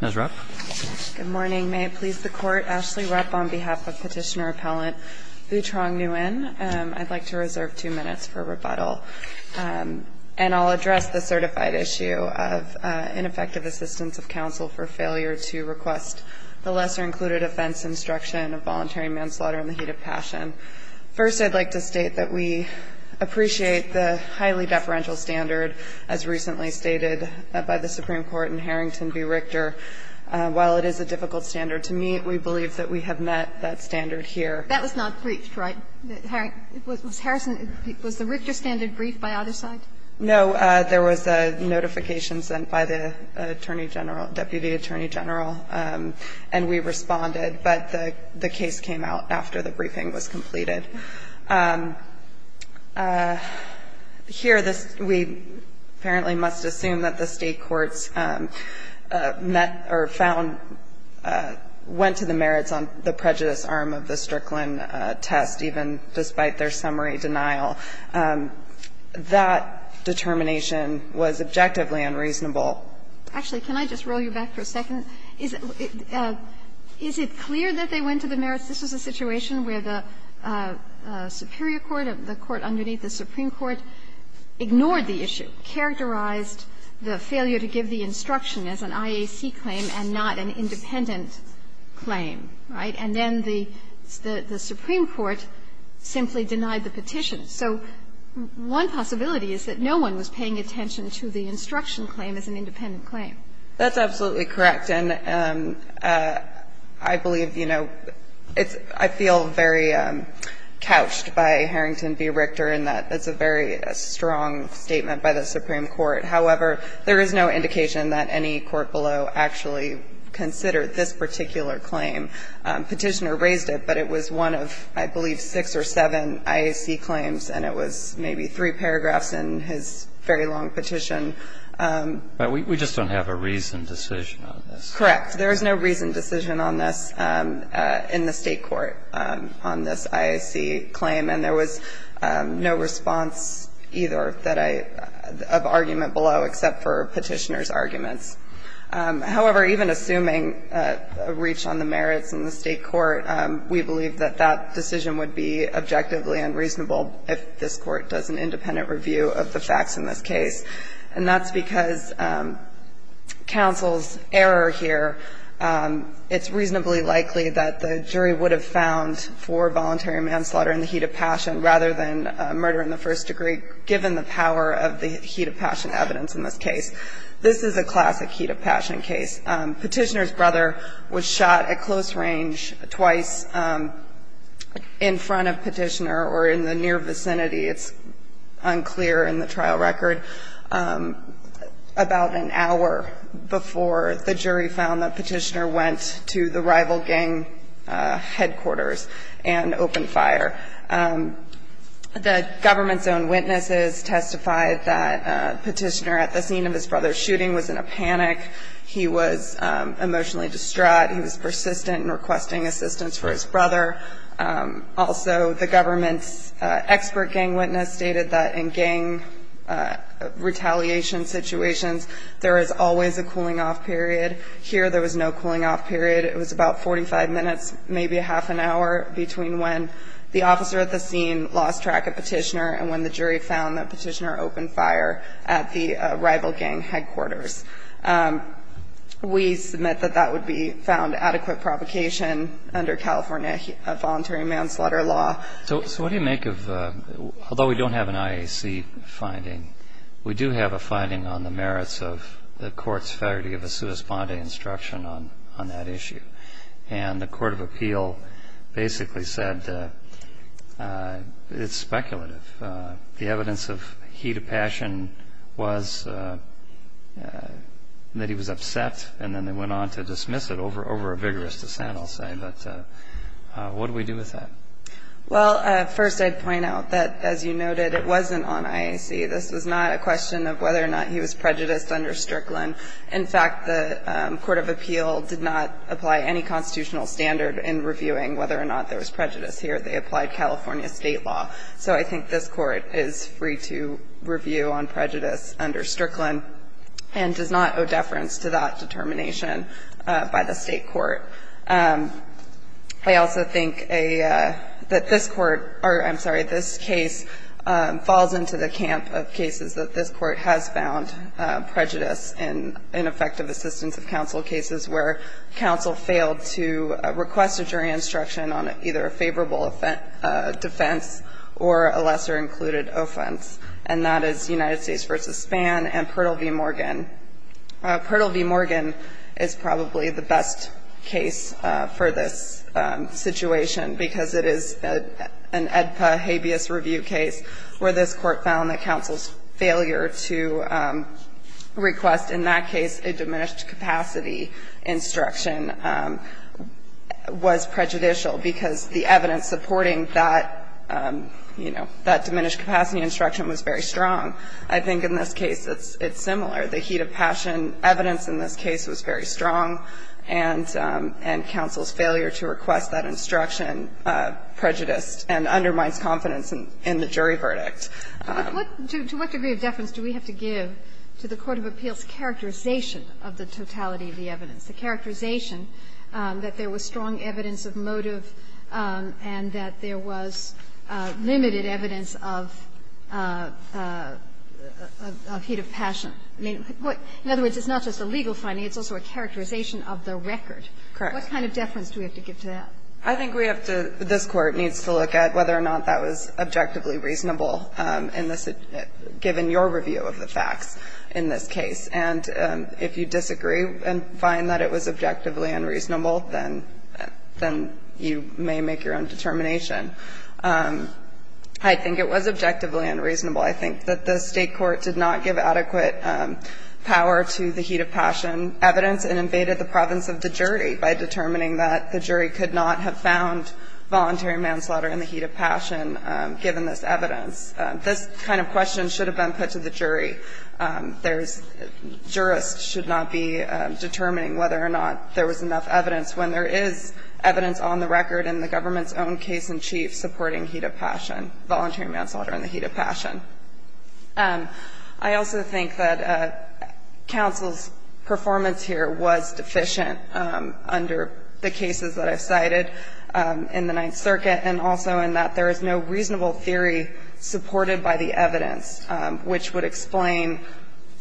Ms. Rupp. Good morning. May it please the Court. Ashley Rupp on behalf of petitioner-appellant Vu Trong Nguyen. I'd like to reserve two minutes for rebuttal, and I'll address the certified issue of ineffective assistance of counsel for failure to request the lesser-included offense instruction of voluntary manslaughter in the heat of passion. First, I'd like to state that we appreciate the highly deferential standard, as recently stated by the Supreme Court in Harrington v. Richter. While it is a difficult standard to meet, we believe that we have met that standard here. That was not briefed, right? Was the Richter standard briefed by either side? No. There was a notification sent by the Attorney General, Deputy Attorney General, and we responded, but the case came out after the briefing was completed. Here, we apparently must assume that the State courts met or found, went to the merits on the prejudice arm of the Strickland test, even despite their summary denial. That determination was objectively unreasonable. Actually, can I just roll you back for a second? This was a situation where the superior court, the court underneath the Supreme Court, ignored the issue, characterized the failure to give the instruction as an IAC claim and not an independent claim, right? And then the Supreme Court simply denied the petition. So one possibility is that no one was paying attention to the instruction claim as an independent claim. That's absolutely correct. And I believe, you know, I feel very couched by Harrington v. Richter in that it's a very strong statement by the Supreme Court. However, there is no indication that any court below actually considered this particular claim. Petitioner raised it, but it was one of, I believe, six or seven IAC claims, and it was maybe three paragraphs in his very long petition. But we just don't have a reasoned decision on this. Correct. There is no reasoned decision on this in the State court on this IAC claim. And there was no response either of argument below except for Petitioner's arguments. However, even assuming a reach on the merits in the State court, we believe that that decision would be objectively unreasonable if this Court does an independent review of the facts in this case. And that's because counsel's error here, it's reasonably likely that the jury would have found for voluntary manslaughter in the heat of passion rather than murder in the first degree, given the power of the heat of passion evidence in this case. This is a classic heat of passion case. Petitioner's brother was shot at close range twice in front of Petitioner or in the near vicinity. It's unclear in the trial record. About an hour before, the jury found that Petitioner went to the rival gang headquarters and opened fire. The government's own witnesses testified that Petitioner, at the scene of his brother's shooting, was in a panic. He was emotionally distraught. He was persistent in requesting assistance for his brother. Also, the government's expert gang witness stated that in gang retaliation situations, there is always a cooling-off period. Here, there was no cooling-off period. It was about 45 minutes, maybe a half an hour, between when the officer at the scene lost track of Petitioner and when the jury found that Petitioner opened fire at the rival gang headquarters. We submit that that would be found adequate provocation under California voluntary manslaughter law. So what do you make of, although we don't have an IAC finding, we do have a finding on the merits of the court's federity of a sua sponde instruction on that issue. And the court of appeal basically said it's speculative. The evidence of heat of passion was that he was upset, and then they went on to dismiss it over a vigorous dissent, I'll say. But what do we do with that? Well, first, I'd point out that, as you noted, it wasn't on IAC. This was not a question of whether or not he was prejudiced under Strickland. In fact, the court of appeal did not apply any constitutional standard in reviewing whether or not there was prejudice here. They applied California state law. So I think this court is free to review on prejudice under Strickland and does not owe deference to that determination by the state court. I also think that this court or, I'm sorry, this case falls into the camp of cases that this court has found prejudice in effective assistance of counsel cases where counsel failed to request a jury instruction on either a favorable defense or a lesser included offense, and that is United States v. Spann and Pertle v. Morgan. Pertle v. Morgan is probably the best case for this situation because it is an AEDPA habeas review case where this court found that counsel's failure to request in that case a diminished capacity instruction was prejudicial, because the evidence supporting that, you know, that diminished capacity instruction was very strong. I think in this case it's similar. The heat of passion evidence in this case was very strong, and counsel's failure to request that instruction prejudiced and undermines confidence in the jury verdict. But what to what degree of deference do we have to give to the court of appeals characterization of the totality of the evidence, the characterization that there was strong evidence of motive and that there was limited evidence of heat of passion? I mean, in other words, it's not just a legal finding. It's also a characterization of the record. Correct. What kind of deference do we have to give to that? I think we have to, this Court needs to look at whether or not that was objectively reasonable in this, given your review of the facts in this case. And if you disagree and find that it was objectively unreasonable, then you may make your own determination. I think it was objectively unreasonable. I think that the State court did not give adequate power to the heat of passion evidence and invaded the province of the jury by determining that the jury could not have found voluntary manslaughter in the heat of passion, given this evidence. This kind of question should have been put to the jury. There's ‑‑ jurists should not be determining whether or not there was enough evidence when there is evidence on the record in the government's own case-in-chief supporting heat of passion, voluntary manslaughter in the heat of passion. I also think that counsel's performance here was deficient under the cases that I've cited in the Ninth Circuit, and also in that there is no reasonable theory supported by the evidence, which would explain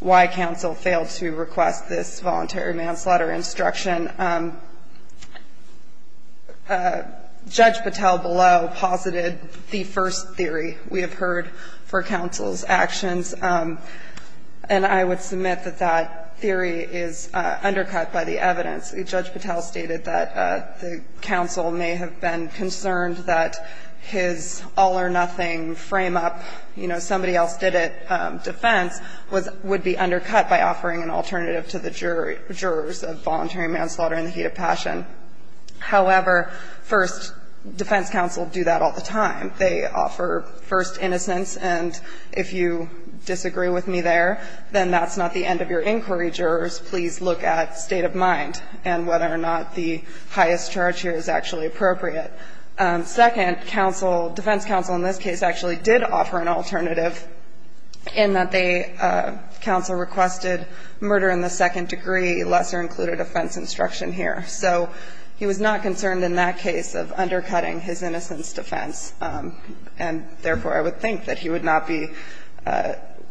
why counsel failed to request this voluntary manslaughter instruction. Judge Patel below posited the first theory we have heard for counsel's actions, and I would submit that that theory is undercut by the evidence. Judge Patel stated that the counsel may have been concerned that his all-or-nothing frame-up, you know, somebody else did it, defense, was ‑‑ would be undercut by offering an alternative to the jurors of voluntary manslaughter in the heat of passion. However, first, defense counsel do that all the time. They offer first innocence, and if you disagree with me there, then that's not the end of your inquiry, jurors. Please look at state of mind and whether or not the highest charge here is actually appropriate. Second, counsel, defense counsel in this case actually did offer an alternative in that they ‑‑ counsel requested murder in the second degree, lesser included offense instruction here. So he was not concerned in that case of undercutting his innocence defense, and therefore, I would think that he would not be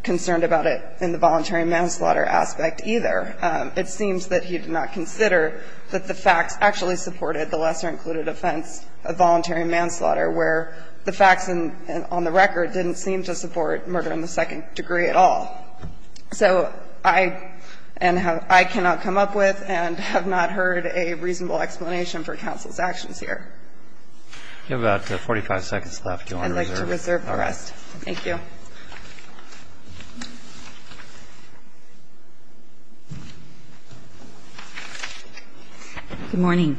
concerned about it in the voluntary manslaughter aspect either. It seems that he did not consider that the facts actually supported the lesser included offense of voluntary manslaughter, where the facts on the record didn't seem to support murder in the second degree at all. So I ‑‑ and I cannot come up with and have not heard a reasonable explanation for counsel's actions here. You have about 45 seconds left. I'd like to reserve the rest. Thank you. Good morning.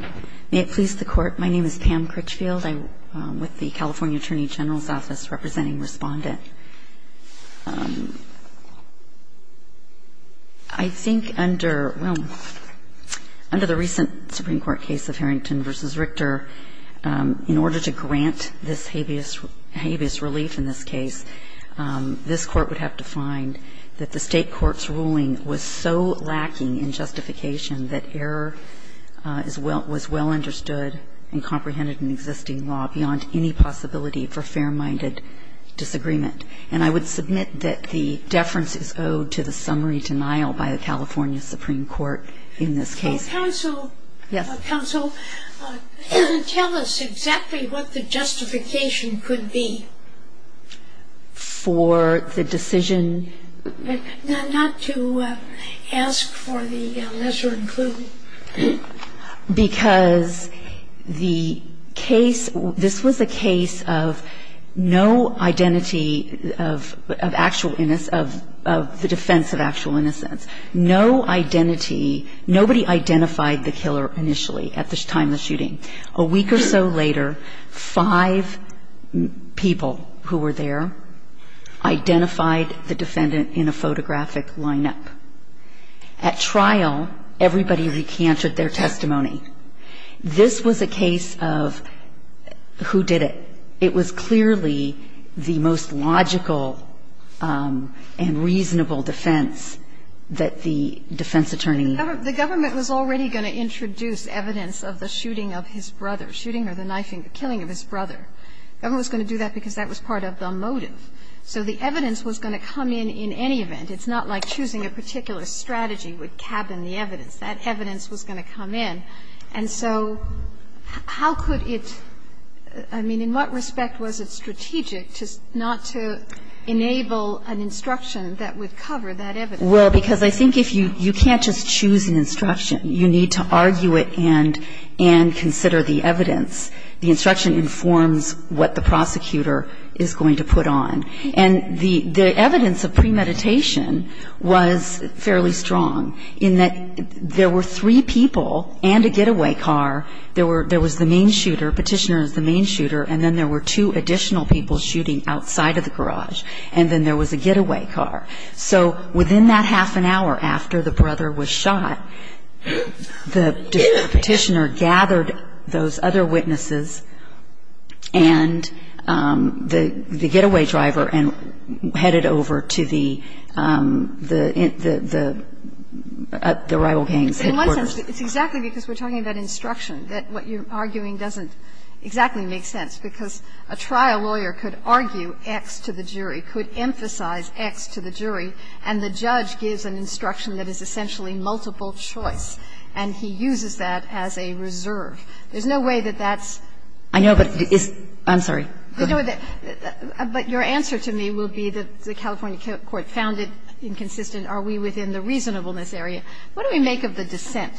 May it please the Court, my name is Pam Critchfield. I'm with the California Attorney General's Office representing Respondent. I think under, well, under the recent Supreme Court case of Harrington v. Richter, in order to grant this habeas relief in this case, this Court would have to find that the State court's ruling was so lacking in justification that error is well ‑‑ was well understood and comprehended in existing law beyond any possibility for fair‑minded disagreement. And I would submit that the deference is owed to the summary denial by the California Supreme Court in this case. Counsel, counsel, tell us exactly what the justification could be. For the decision? Not to ask for the lesser included. Because the case ‑‑ this was a case of no identity of actual ‑‑ of the defense of actual innocence. No identity, nobody identified the killer initially at the time of the shooting. A week or so later, five people who were there identified the defendant in a photographic lineup. At trial, everybody recanted their testimony. This was a case of who did it? It was clearly the most logical and reasonable defense that the defense attorney had. The government was already going to introduce evidence of the shooting of his brother, shooting or the knifing, killing of his brother. The government was going to do that because that was part of the motive. So the evidence was going to come in in any event. It's not like choosing a particular strategy would cabin the evidence. That evidence was going to come in. And so how could it ‑‑ I mean, in what respect was it strategic not to enable an instruction that would cover that evidence? Well, because I think if you ‑‑ you can't just choose an instruction. You need to argue it and consider the evidence. The instruction informs what the prosecutor is going to put on. And the evidence of premeditation was fairly strong in that there were three people and a getaway car. There was the main shooter. Petitioner was the main shooter. And then there were two additional people shooting outside of the garage. And then there was a getaway car. So within that half an hour after the brother was shot, the petitioner gathered those other witnesses and the getaway driver and headed over to the rival gang's headquarters. In one sense, it's exactly because we're talking about instruction that what you're arguing doesn't exactly make sense, because a trial lawyer could argue X to the jury, could emphasize X to the jury, and the judge gives an instruction that is essentially multiple choice. And he uses that as a reserve. There's no way that that's ‑‑ I know, but it's ‑‑ I'm sorry. Go ahead. But your answer to me will be that the California court found it inconsistent. Are we within the reasonableness area? What do we make of the dissent?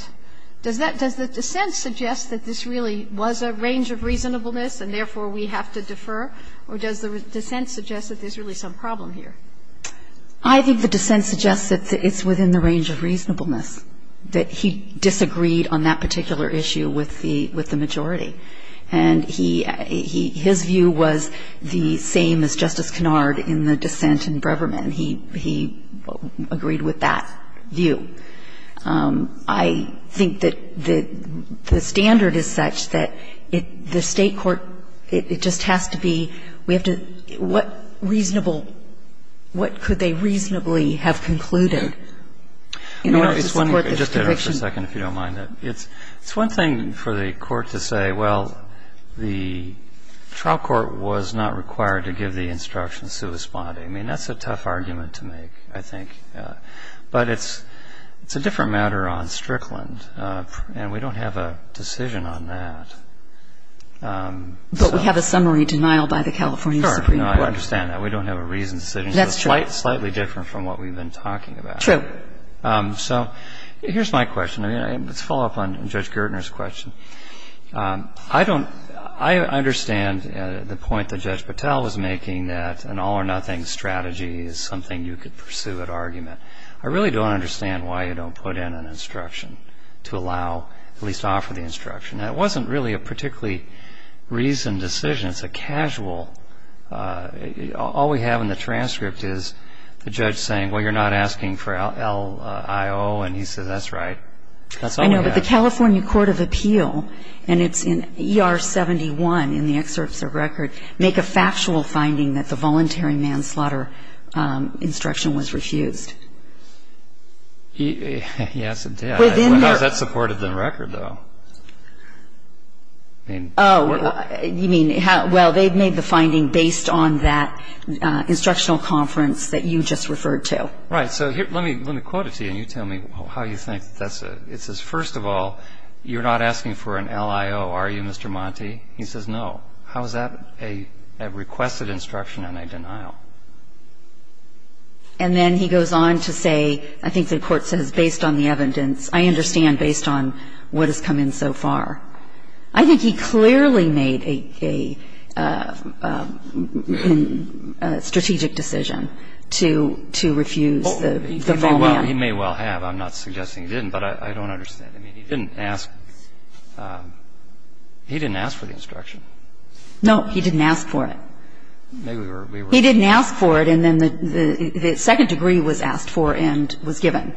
Does the dissent suggest that this really was a range of reasonableness and therefore we have to defer? Or does the dissent suggest that there's really some problem here? I think the dissent suggests that it's within the range of reasonableness, that he disagreed on that particular issue with the majority. And his view was the same as Justice Kennard in the dissent in Breverman. He agreed with that view. I think that the standard is such that the state court, it just has to be ‑‑ we have to ‑‑ what reasonable ‑‑ what could they reasonably have concluded in order to support this conviction? Just a second, if you don't mind. It's one thing for the court to say, well, the trial court was not required to give the instructions corresponding. I mean, that's a tough argument to make, I think. But it's a different matter on Strickland, and we don't have a decision on that. But we have a summary denial by the California Supreme Court. Sure, I understand that. We don't have a reasoned decision. That's true. Slightly different from what we've been talking about. True. So here's my question. Let's follow up on Judge Gertner's question. I don't ‑‑ I understand the point that Judge Patel was making that an all or nothing strategy is something you could pursue at argument. I really don't understand why you don't put in an instruction to allow, at least offer the instruction. That wasn't really a particularly reasoned decision. It's a casual ‑‑ all we have in the transcript is the judge saying, well, you're not asking for LIO, and he says, that's right. That's all we have. The California Court of Appeal, and it's in ER 71 in the excerpts of record, make a factual finding that the voluntary manslaughter instruction was refused. Yes, it did. How is that supported in the record, though? Oh, you mean, well, they've made the finding based on that instructional conference that you just referred to. Right. So let me quote it to you, and you tell me how you think. It says, first of all, you're not asking for an LIO, are you, Mr. Monti? He says, no. How is that a requested instruction and a denial? And then he goes on to say, I think the court says, based on the evidence, I understand based on what has come in so far. I think he clearly made a strategic decision to refuse the full man. Well, he may well have. I'm not suggesting he didn't, but I don't understand. I mean, he didn't ask. He didn't ask for the instruction. No, he didn't ask for it. Maybe we were... He didn't ask for it, and then the second degree was asked for and was given.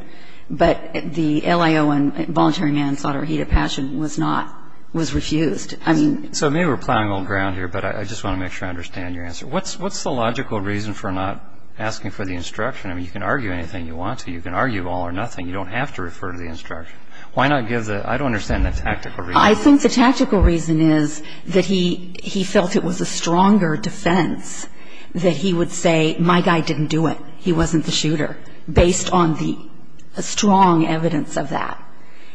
But the LIO and voluntary manslaughter or heat of passion was not, was refused. I mean... So maybe we're plowing old ground here, but I just want to make sure I understand your answer. What's the logical reason for not asking for the instruction? I mean, you can argue anything you want to. You can argue all or nothing. You don't have to refer to the instruction. Why not give the... I don't understand the tactical reason. I think the tactical reason is that he felt it was a stronger defense that he would say, my guy didn't do it. He wasn't the shooter, based on the strong evidence of that.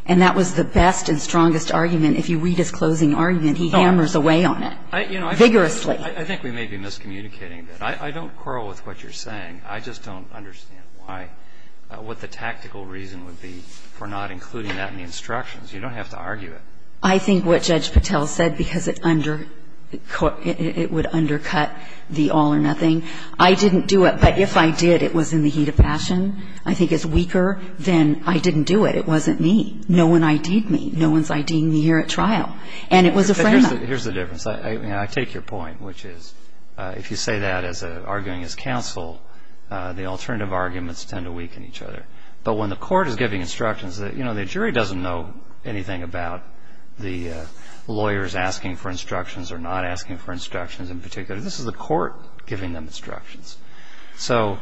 And that was the best and strongest argument. If you read his closing argument, he hammers away on it vigorously. I think we may be miscommunicating a bit. I don't quarrel with what you're saying. I just don't understand why, what the tactical reason would be for not including that in the instructions. You don't have to argue it. I think what Judge Patel said, because it would undercut the all or nothing, I didn't do it. But if I did, it was in the heat of passion. I think it's weaker than I didn't do it. It wasn't me. No one ID'd me. No one's ID'd me here at trial. And it was a frame-up. Here's the difference. I take your point, which is, if you say that arguing as counsel, the alternative arguments tend to weaken each other. But when the court is giving instructions, the jury doesn't know anything about the lawyers asking for instructions or not asking for instructions in particular. This is the court giving them instructions. So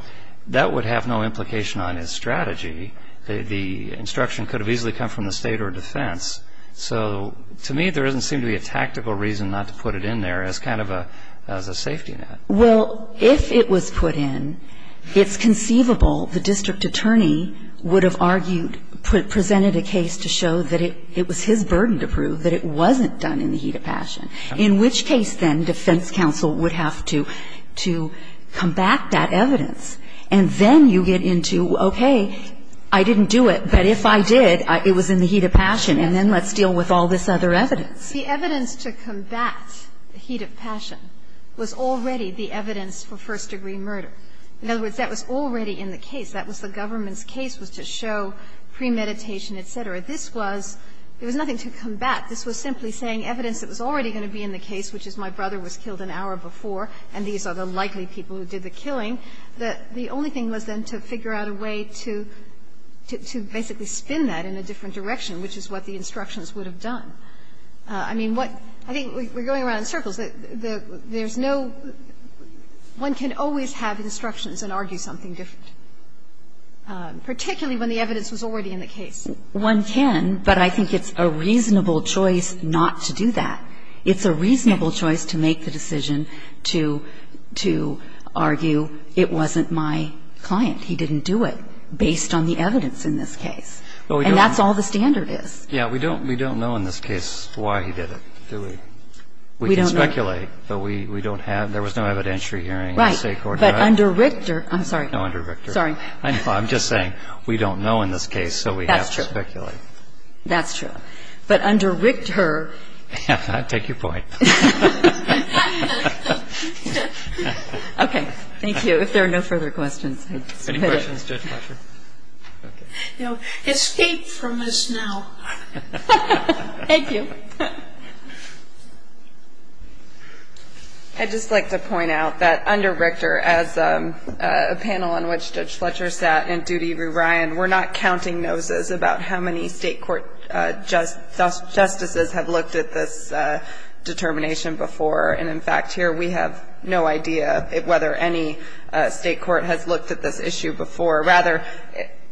that would have no implication on his strategy. The instruction could have easily come from the state or defense. So, to me, there doesn't seem to be a tactical reason not to put it in there as kind of a safety net. Well, if it was put in, it's conceivable the district attorney would have argued presented a case to show that it was his burden to prove that it wasn't done in the heat of passion. In which case, then, defense counsel would have to combat that evidence. And then you get into, okay, I didn't do it. But if I did, it was in the heat of passion. And then let's deal with all this other evidence. The evidence to combat the heat of passion was already the evidence for first-degree murder. In other words, that was already in the case. That was the government's case, was to show premeditation, et cetera. This was, there was nothing to combat. This was simply saying evidence that was already going to be in the case, which is my brother was killed an hour before and these are the likely people who did the killing. The only thing was, then, to figure out a way to basically spin that in a different direction, which is what the instructions would have done. I mean, what, I think we're going around in circles. There's no, one can always have instructions and argue something different. Particularly when the evidence was already in the case. One can, but I think it's a reasonable choice not to do that. It's a reasonable choice to make the decision to argue it wasn't my client. He didn't do it based on the evidence in this case. And that's all the standard is. Yeah, we don't know in this case why he did it, do we? We don't know. We can speculate, but we don't have, there was no evidentiary hearing. Right. But under Richter, I'm sorry. No, under Richter. Sorry. I'm just saying, we don't know in this case, so we have to speculate. That's true. That's true. But under Richter. I take your point. Okay. Thank you. If there are no further questions, I'll just put it. Any questions, Judge Fletcher? Okay. Now, escape from us now. Thank you. I'd just like to point out that under Richter, as a panel on which Judge Fletcher sat and Judy Rui Ryan, we're not counting noses about how many state court justices have looked at this determination before. And, in fact, here we have no idea whether any state court has looked at this issue before. Rather,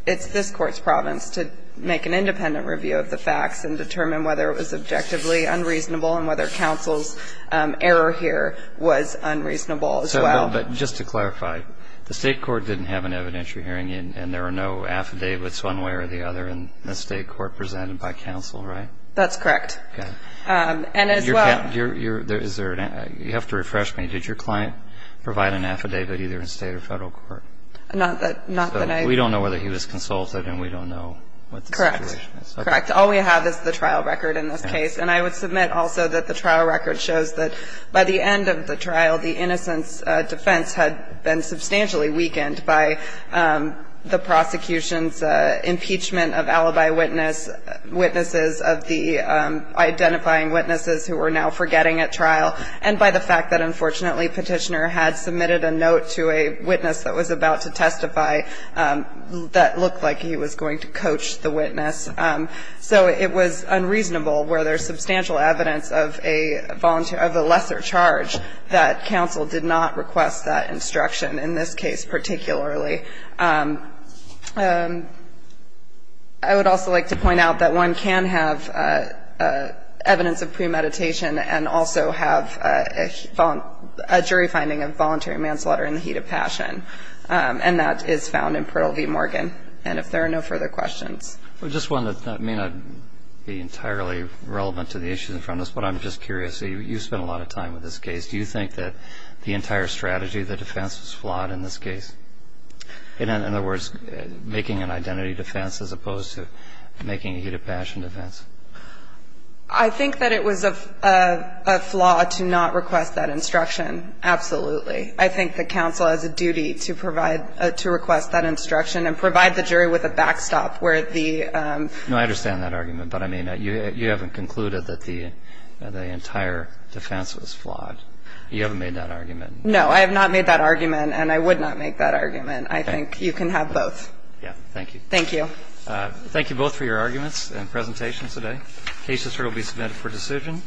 it's this court's province to make an independent review of the facts and determine whether it was objectively unreasonable and whether counsel's error here was unreasonable as well. But just to clarify, the state court didn't have an evidentiary hearing and there were no affidavits one way or the other in the state court presented by counsel, right? That's correct. Okay. And as well. You have to refresh me. Did your client provide an affidavit either in state or federal court? Not that I. We don't know whether he was consulted and we don't know what the situation is. Correct. Correct. All we have is the trial record in this case. And I would submit also that the trial record shows that by the end of the trial, the innocence defense had been substantially weakened by the prosecution's impeachment of alibi witnesses of the identifying witnesses who were now forgetting at trial and by the fact that, unfortunately, Petitioner had submitted a note to a witness that was about to testify that looked like he was going to coach the witness. So it was unreasonable where there's substantial evidence of a lesser charge that counsel did not request that instruction in this case particularly. I would also like to point out that one can have evidence of premeditation and also have a jury finding of voluntary manslaughter in the heat of passion and that is found in Pirtle v. Morgan. And if there are no further questions. Well, just one that may not be entirely relevant to the issue in front of us, but I'm just curious. You spent a lot of time with this case. Do you think that the entire strategy of the defense was flawed in this case? In other words, making an identity defense as opposed to making a heat of passion defense? I think that it was a flaw to not request that instruction. Absolutely. I think that counsel has a duty to request that instruction and provide the jury with a backstop where the... No, I understand that argument. But, I mean, you haven't concluded that the entire defense was flawed. You haven't made that argument. No, I have not made that argument and I would not make that argument. I think you can have both. Yeah. Thank you. Thank you. Thank you both for your arguments and presentations today. The case will be submitted for decision.